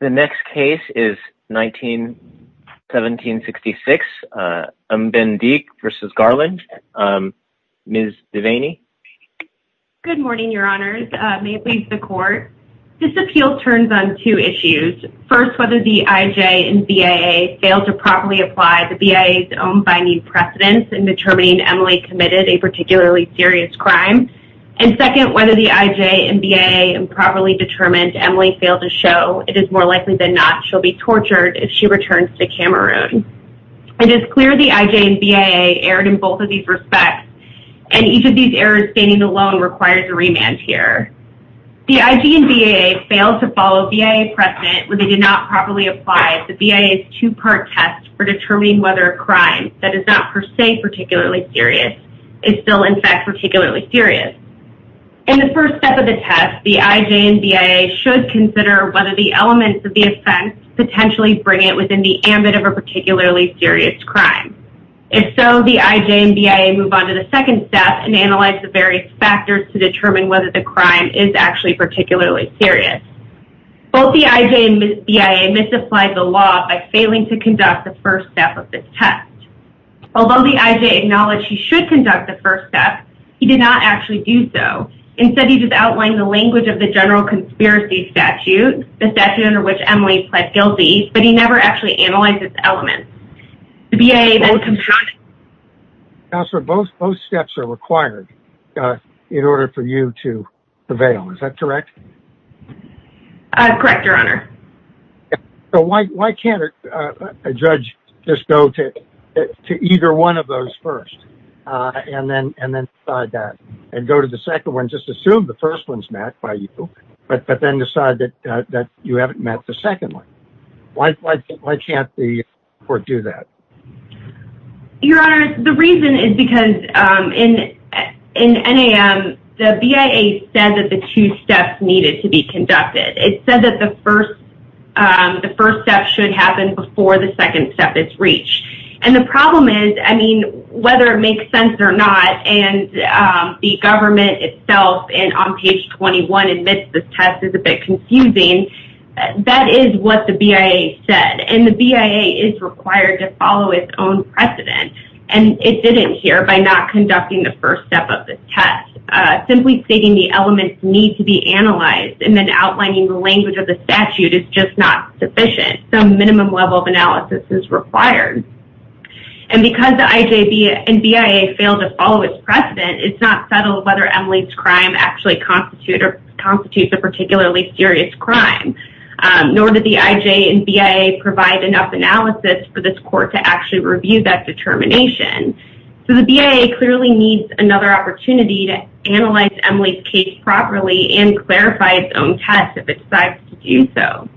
The next case is 1766 Mbendeke v. Garland. Ms. Devaney. Good morning, Your Honors. May it please the Court. This appeal turns on two issues. First, whether the IJ and BAA fail to properly apply the BAA's own binding precedence in determining Emily committed a particularly serious crime, and second, whether the IJ and BAA improperly determined Emily failed to show it is more likely than not she'll be tortured if she returns to Cameroon. It is clear the IJ and BAA erred in both of these respects, and each of these errors standing alone requires a remand here. The IJ and BAA failed to follow BAA precedent when they did not properly apply the BAA's two-part test for determining whether a crime that is not per se particularly serious is still in the case. In the first step of the test, the IJ and BAA should consider whether the elements of the offense potentially bring it within the ambit of a particularly serious crime. If so, the IJ and BAA move on to the second step and analyze the various factors to determine whether the crime is actually particularly serious. Both the IJ and BAA misapplied the law by failing to conduct the first step of this test. Although the IJ acknowledged he should conduct the first step, he did not actually do so. Instead, he just outlined the language of the general conspiracy statute, the statute under which Emily pled guilty, but he never actually analyzed its elements. The BAA then... Counselor, both steps are required in order for you to prevail, is that correct? Correct, Your Honor. So why can't a judge just go to either one of those first? And then decide that. And go to the second one, just assume the first one's met by you, but then decide that you haven't met the second one. Why can't the court do that? Your Honor, the reason is because in NAM, the BAA said that the two steps needed to be conducted. It said that the first step should happen before the second step is reached. And the problem is, I mean, whether it makes sense or not, and the government itself, and on page 21 admits this test is a bit confusing, that is what the BAA said. And the BAA is required to follow its own precedent, and it didn't here by not conducting the first step of the test. Simply stating the elements need to be analyzed and then outlining the language of the statute is just not sufficient. Some minimum level of analysis is required. And because the IJ and BAA failed to follow its precedent, it's not settled whether Emily's crime actually constitutes a particularly serious crime, nor did the IJ and BAA provide enough analysis for this court to actually review that determination. So the BAA clearly needs another opportunity to analyze Emily's case properly and clarify its own test if it decides to do so.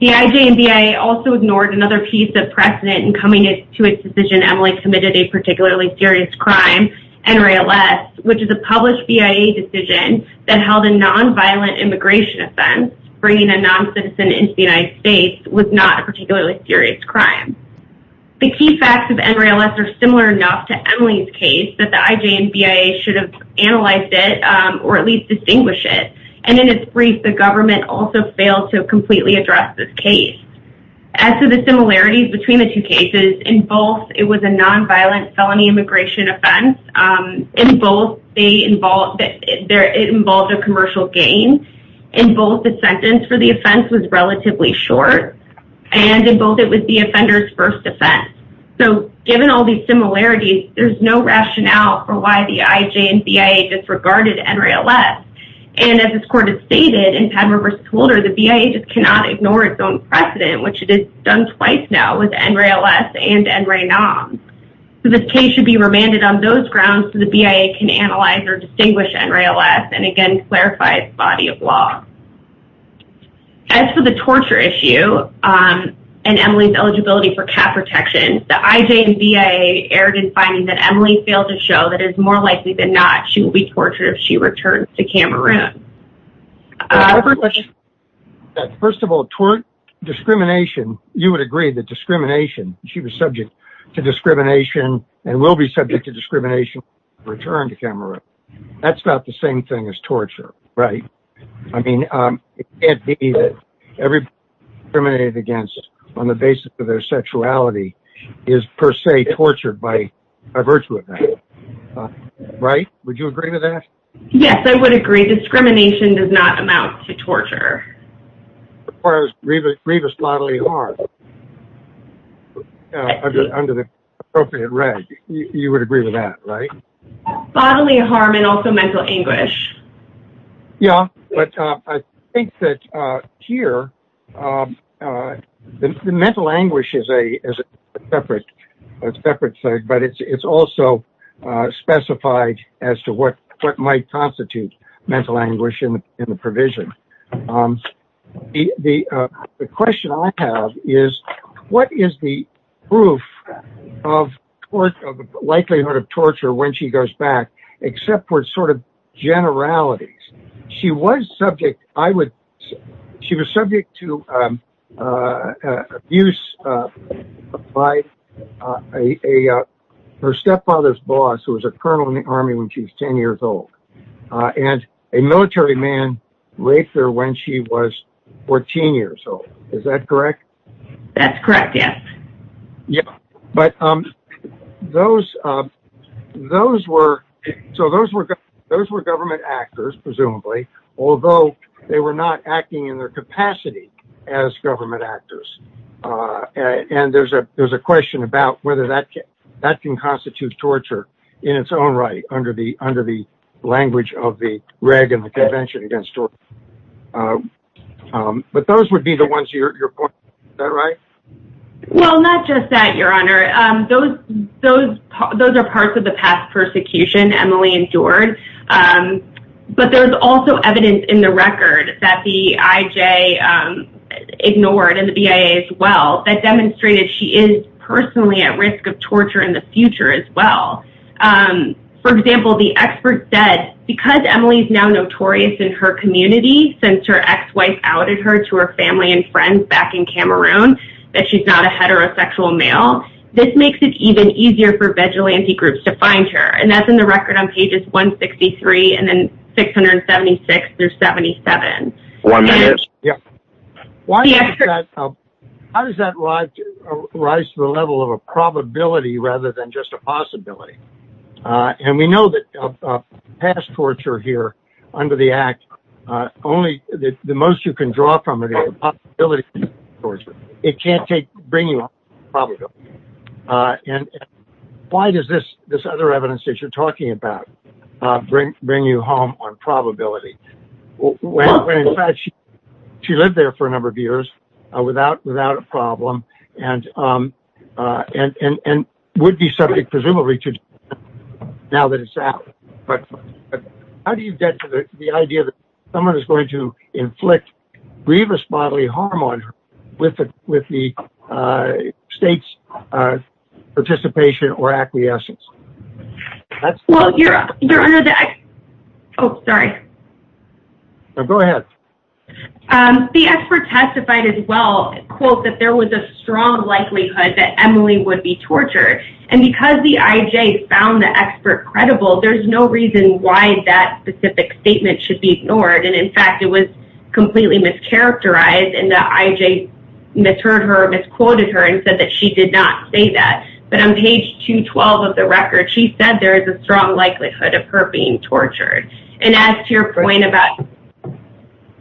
The IJ and BAA also ignored another piece of precedent in coming to its decision Emily committed a particularly serious crime, NRALS, which is a published BIA decision that held a non-violent immigration offense, bringing a non-citizen into the United States, was not a particularly serious crime. The key facts of NRALS are similar enough to Emily's case that the IJ and BAA should have analyzed it or at least distinguish it. And in its brief, the government also failed to completely address this case. As to the similarities between the two cases, in both, it was a non-violent felony immigration offense. In both, it involved a commercial gain. In both, the sentence for the offense was relatively short. And in both, it was the offender's first offense. So given all these similarities, there's no reason why the IJ and BAA disregarded NRALS. And as this court has stated, in Padmore v. Holder, the BAA just cannot ignore its own precedent, which it has done twice now with NRALS and NRANOM. So this case should be remanded on those grounds so the BAA can analyze or distinguish NRALS and again clarify its body of law. As for the torture issue and Emily's eligibility for cap protection, the IJ and BAA erred in finding that Emily failed to show that it's more likely than not she will be tortured if she returns to Cameroon. First of all, toward discrimination, you would agree that discrimination, she was subject to discrimination and will be subject to discrimination if she returns to Cameroon. That's about the same thing as torture, right? I mean, it can't be that every person discriminated against on the basis of their sexuality is per se tortured by a virtue of that, right? Would you agree with that? Yes, I would agree. Discrimination does not amount to torture. As far as grievous bodily harm under the appropriate reg, you would agree with that, right? Bodily harm and also mental anguish. Yeah, but I think that here, the mental anguish is a separate thing, but it's also specified as to what might constitute mental anguish in the provision. The question I have is, what is the proof of likelihood of torture when she goes back except for sort of generalities? She was subject to abuse by her stepfather's boss, who was a colonel in the army when she was 10 years old, and a military man raped her when she was 14 years old. Is that correct? That's correct, yes. Yeah, but those were government actors, presumably, although they were not acting in their capacity as government actors, and there's a question about whether that can constitute torture in its own right under the language of the reg and the Convention against Torture. But those would be the ones you're pointing to. Is that right? Well, not just that, Your Honor. Those are parts of the past persecution Emily endured, but there's also evidence in the record that the IJ ignored, and the BIA as well, that demonstrated she is personally at risk of torture in the future as well. For example, the expert said, because Emily's now notorious in her community, since her ex-wife outed her to her family and friends back in Cameroon, that she's not a heterosexual male, this makes it even easier for vigilante groups to find her, and that's in the record on pages 163 and then 676 through 77. One minute. Yeah. Why does that rise to the level of a probability rather than just a possibility? And we know that past torture here under the Act, the most you can draw from it is the possibility of torture. It can't bring you home on probability. And why does this other evidence that you're talking about bring you home on probability? When in fact, she lived there for a number of years without a problem, and would be subject, presumably, to death now that it's out. But how do you get to the idea that someone is going to die with the state's participation or acquiescence? Well, you're under the Act. Oh, sorry. Go ahead. The expert testified as well, quote, that there was a strong likelihood that Emily would be tortured. And because the IJ found the expert credible, there's no reason why that specific statement should be ignored. And in fact, it was completely mischaracterized in the IJ misheard her, misquoted her and said that she did not say that. But on page 212 of the record, she said there is a strong likelihood of her being tortured. And as to your point about...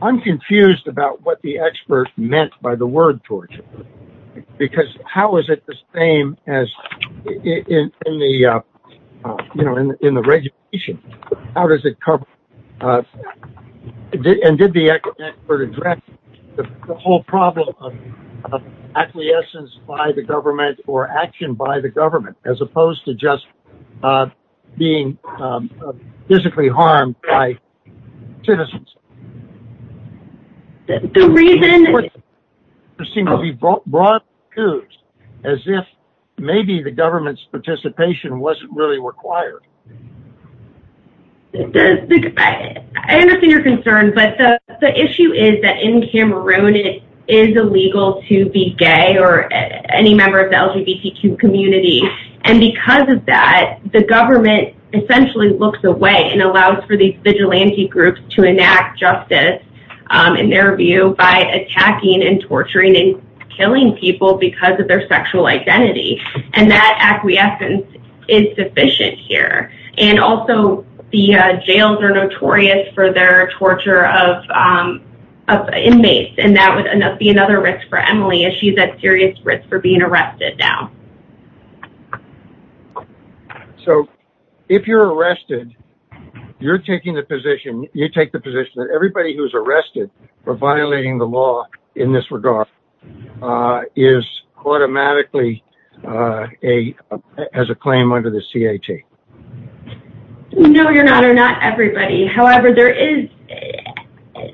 I'm confused about what the expert meant by the word torture. Because how is it the same as in the, you know, in the regulation? How is it the same as in the regulation of acquiescence by the government or action by the government as opposed to just being physically harmed by citizens? The reason... There seems to be broad clues as if maybe the government's participation wasn't really required. I understand your concern. But the issue is that in Cameroon, it is illegal to be gay or any member of the LGBTQ community. And because of that, the government essentially looks away and allows for these vigilante groups to enact justice in their view by attacking and torturing and killing people because of their gender. And also, the jails are notorious for their torture of inmates. And that would be another risk for Emily as she's at serious risk for being arrested now. So, if you're arrested, you're taking the position, you take the position that everybody who's arrested for violating the law in this regard is automatically a, has a claim under the C.A.T. No, you're not. Or not everybody. However, there is...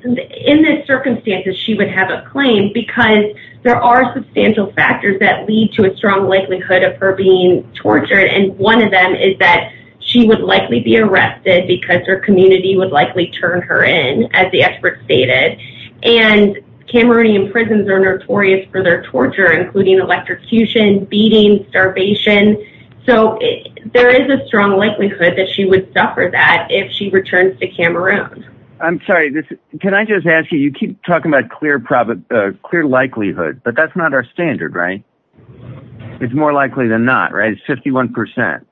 In this circumstance, she would have a claim because there are substantial factors that lead to a strong likelihood of her being tortured. And one of them is that she would likely be arrested because her community would likely turn her in, as the expert stated. And Cameroonian prisons are notorious for their torture, including electrocution, beating, starvation. So, there is a strong likelihood that she would suffer that if she returns to Cameroon. I'm sorry, can I just ask you, you keep talking about clear likelihood, but that's not our standard, right? It's more likely than not, right? It's 51%.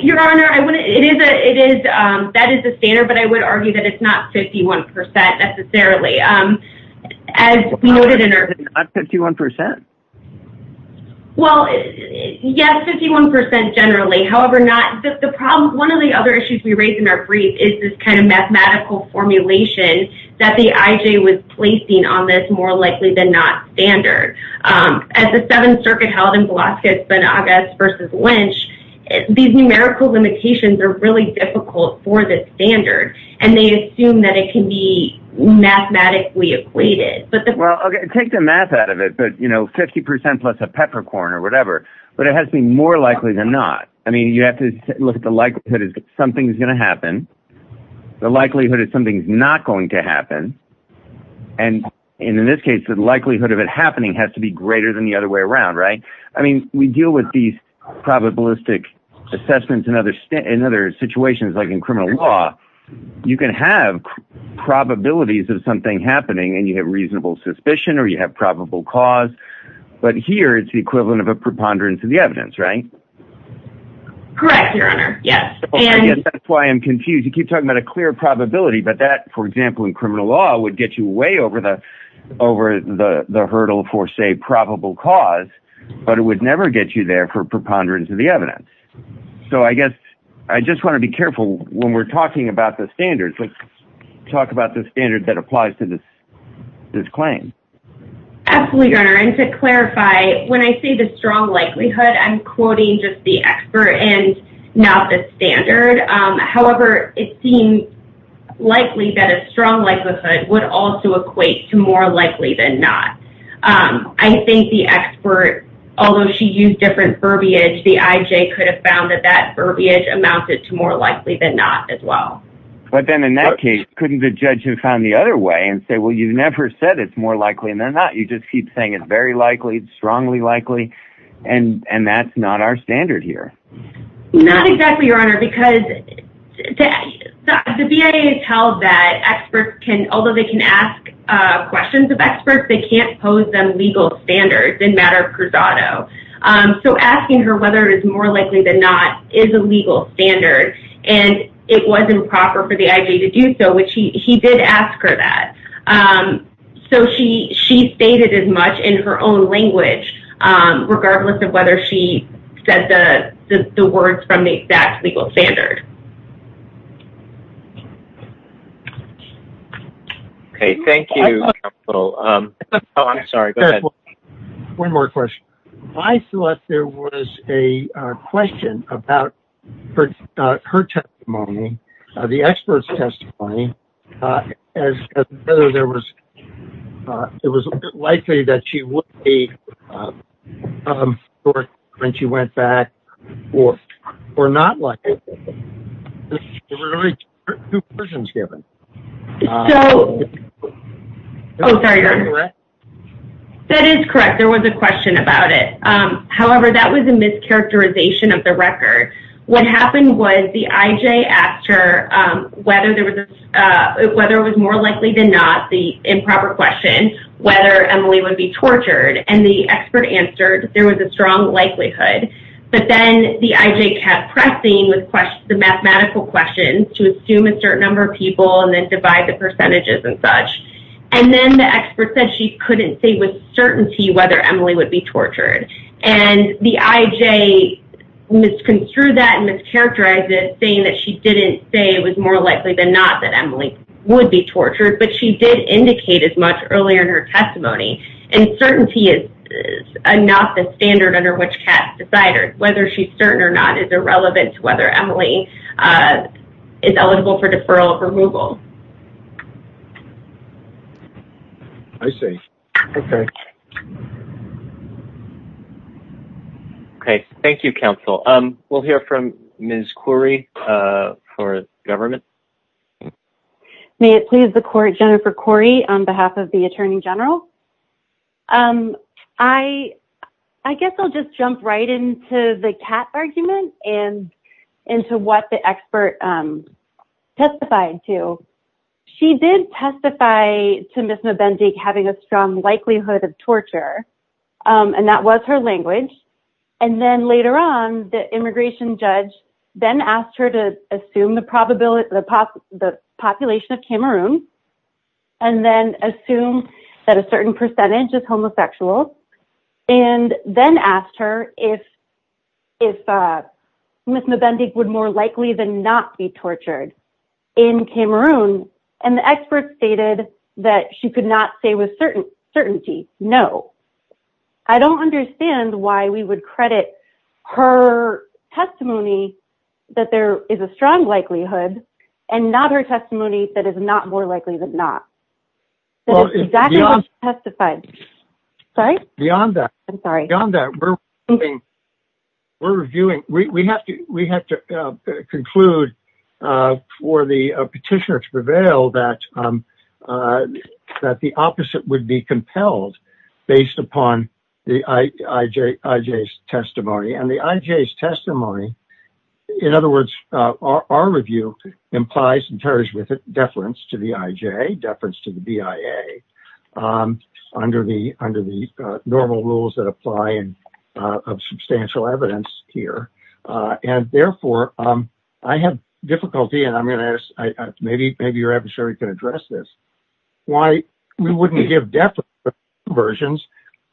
Your Honor, that is the standard, but I would argue that it's not 51% necessarily. As we noted in our... Not 51%? Well, yes, 51% generally. However, not, the problem, one of the other issues we raised in our brief is this kind of mathematical formulation that the I.J. was placing on this more likely than not standard. As the Seventh Circuit held in Velazquez-Bonagas versus Lynch, these numerical limitations are really difficult for the standard, and they assume that it can be mathematically equated. Well, okay, take the math out of it, but 50% plus a peppercorn or whatever, but it has to be more likely than not. I mean, you have to look at the likelihood that something's going to happen, the likelihood that something's not going to happen, and in this case, the likelihood of it happening has to be greater than the other way around, right? I mean, we deal with these probabilistic assessments in other situations, like in criminal law. You can have probabilities of something happening, and you have reasonable suspicion, or you have probable cause, but here it's the equivalent of a preponderance of the evidence, right? Correct, Your Honor, yes, and... Yes, that's why I'm confused. You keep talking about a clear probability, but that, for example, in criminal law would get you way over the hurdle for, say, probable cause, but it would never get you there for preponderance of the evidence, so I guess I just want to be careful when we're talking about the standards. Let's talk about the standard that applies to this claim. Absolutely, Your Honor, and to clarify, when I say the strong likelihood, I'm quoting just the would also equate to more likely than not. I think the expert, although she used different verbiage, the IJ could have found that that verbiage amounted to more likely than not as well. But then in that case, couldn't the judge have found the other way and say, well, you never said it's more likely than not. You just keep saying it's very likely, strongly likely, and that's not our standard here. Not exactly, Your Honor, because the BIA has held that experts can, although they can ask questions of experts, they can't pose them legal standards in matter of crusado. So asking her whether it is more likely than not is a legal standard, and it was improper for the IJ to do so, which he did ask her that. So she stated as much in her own language, regardless of whether she said the words from the exact legal standard. Okay, thank you, counsel. Oh, I'm sorry. One more question. I thought there was a question about her testimony, the expert's testimony, as whether there was, it was likely that she would be when she went back or not likely. There were only two versions given. That is correct. There was a question about it. However, that was a mischaracterization of the record. What happened was the IJ asked her whether it was more likely than not, the improper question, whether Emily would be tortured, and the expert answered there was a strong likelihood, but then the IJ kept pressing with the mathematical questions to assume a certain number of people and then divide the percentages and such, and then the expert said she couldn't say with certainty whether Emily would be tortured, and the IJ misconstrued that and mischaracterized it, saying that she didn't say it was more likely than not that Emily would be tortured, but she did indicate as much earlier in her testimony, and certainty is not the standard under which cats decide. Whether she's certain or not is irrelevant to whether Emily is eligible for deferral of removal. I see. Okay. Okay. Thank you, counsel. We'll hear from Ms. Khoury for government. May it please the court, Jennifer Khoury, on behalf of the Attorney General. I guess I'll just jump right into the cat argument and into what the expert testified to. She did testify to Ms. Mbendig having a strong likelihood of torture, and that was her language, and then later on, the immigration judge then asked her to assume the population of Cameroon and then assume that a certain percentage is homosexual, and then asked her if Ms. Mbendig would more likely than not be tortured in Cameroon, and the expert stated that she could not say with certainty, no. I don't understand why we would credit her testimony that there is a strong likelihood that she would not be tortured in Cameroon, but it's more likely than not. That is exactly what she testified. Sorry? Beyond that, we're reviewing. We have to conclude for the petitioner to prevail that the opposite would be compelled based upon the IJ's testimony, and the IJ's testimony, in other words, our review implies and carries with it deference to the IJ, deference to the BIA, under the normal rules that apply of substantial evidence here, and therefore, I have difficulty, and I'm going to ask, maybe your adversary can address this, why we wouldn't give definite versions,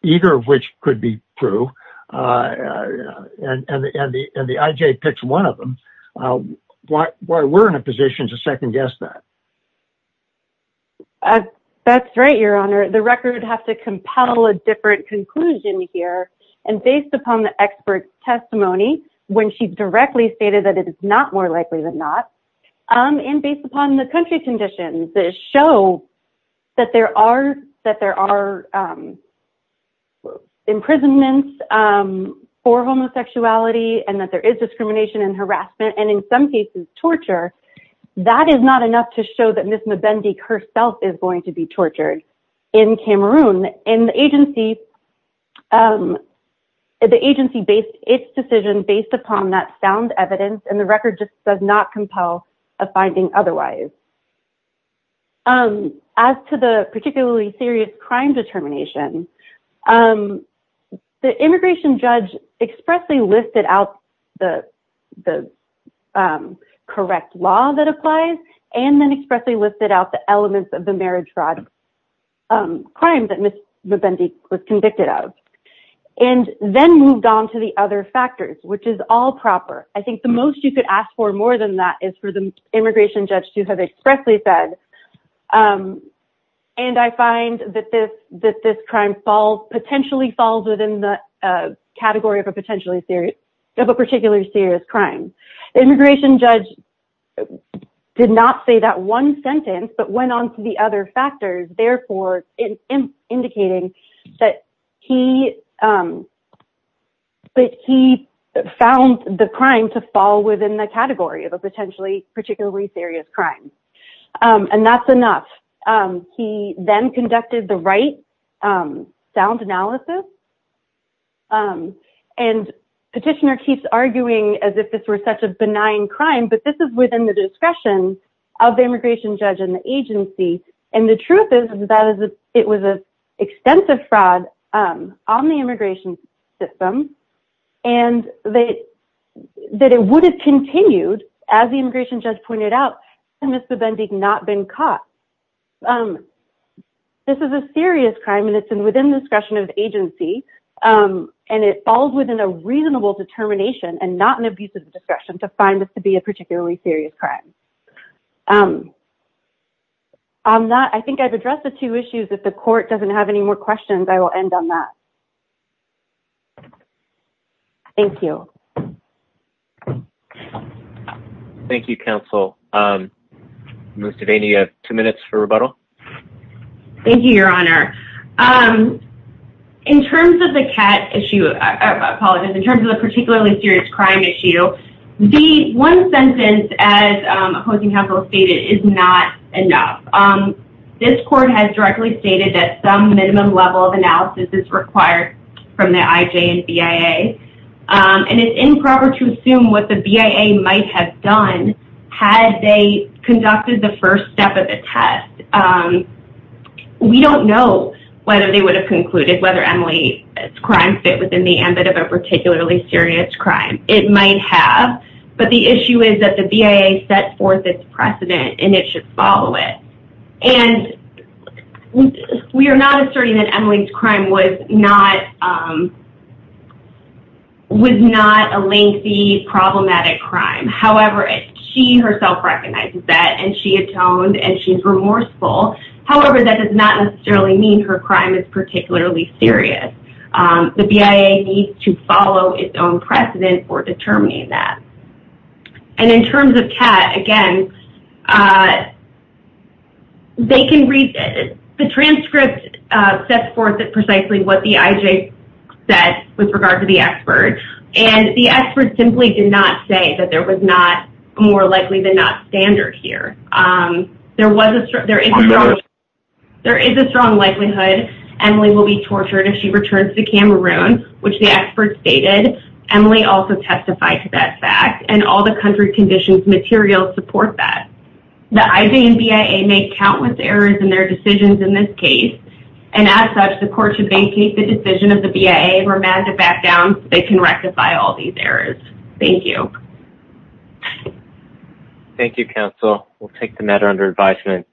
either of which could be true, and the IJ picks one of them. Why we're in a position to second-guess that. That's right, your honor. The record has to compel a different conclusion here, and based upon the expert's testimony, when she directly stated that it is not more likely than not, and based upon the country conditions that show that there are imprisonments for homosexuality, and that there is discrimination and harassment, and in some cases, torture, that is not enough to show that Ms. Mabendik herself is going to be tortured in Cameroon, and the agency, the agency based its decision based upon that sound evidence, and the record just does not compel a finding otherwise. As to the particularly serious crime determination, the immigration judge expressly listed out the correct law that applies, and then expressly listed out the elements of the marriage fraud crime that Ms. Mabendik was asking for. The immigration judge did not say that one sentence, but went on to the other factors, therefore indicating that he found the crime to fall within the category of a potentially particularly serious crime, and that's enough. He then conducted the right sound analysis, and the petitioner keeps arguing as if this were such a benign crime, but this is within the discretion of the immigration judge and the agency, and the truth is that it was an extensive fraud on the immigration system, and that it would have continued, as the immigration judge pointed out, had Ms. Mabendik not been caught. This is a serious crime, and it's within the discretion of the agency, and it falls within a reasonable determination, and not an abuse of discretion to find this to be a particularly serious crime. On that, I think I've addressed the two issues. If the court doesn't have any more questions, I will end on that. Thank you. Thank you, counsel. Ms. Devaney, you have two minutes for rebuttal. Thank you, your honor. In terms of the CAT issue, I apologize, in terms of the particularly serious crime issue, the one sentence, as opposing counsel stated, is not enough. This court has directly stated that some minimum level of analysis is required from the IJ and BIA, and it's improper to assume what the BIA might have done had they conducted the first step of the test. We don't know whether they would have concluded whether Emily's crime fit within the It might have, but the issue is that the BIA set forth its precedent, and it should follow it. And we are not asserting that Emily's crime was not a lengthy, problematic crime. However, she herself recognizes that, and she atoned, and she's remorseful. However, that does not necessarily mean her crime is particularly serious. The BIA needs to follow its own precedent for determining that. And in terms of CAT, again, the transcript sets forth precisely what the IJ said with regard to the expert, and the expert simply did not say that there was not more likely than not standard here. There is a strong likelihood Emily will be tortured if she returns to Cameroon, which the expert stated. Emily also testified to that fact, and all the country conditions materials support that. The IJ and BIA make countless errors in their decisions in this case, and as such, the court should vacate the decision of the BIA and remand it back down so they can rectify all these errors. Thank you, counsel. We'll take the matter under advisement.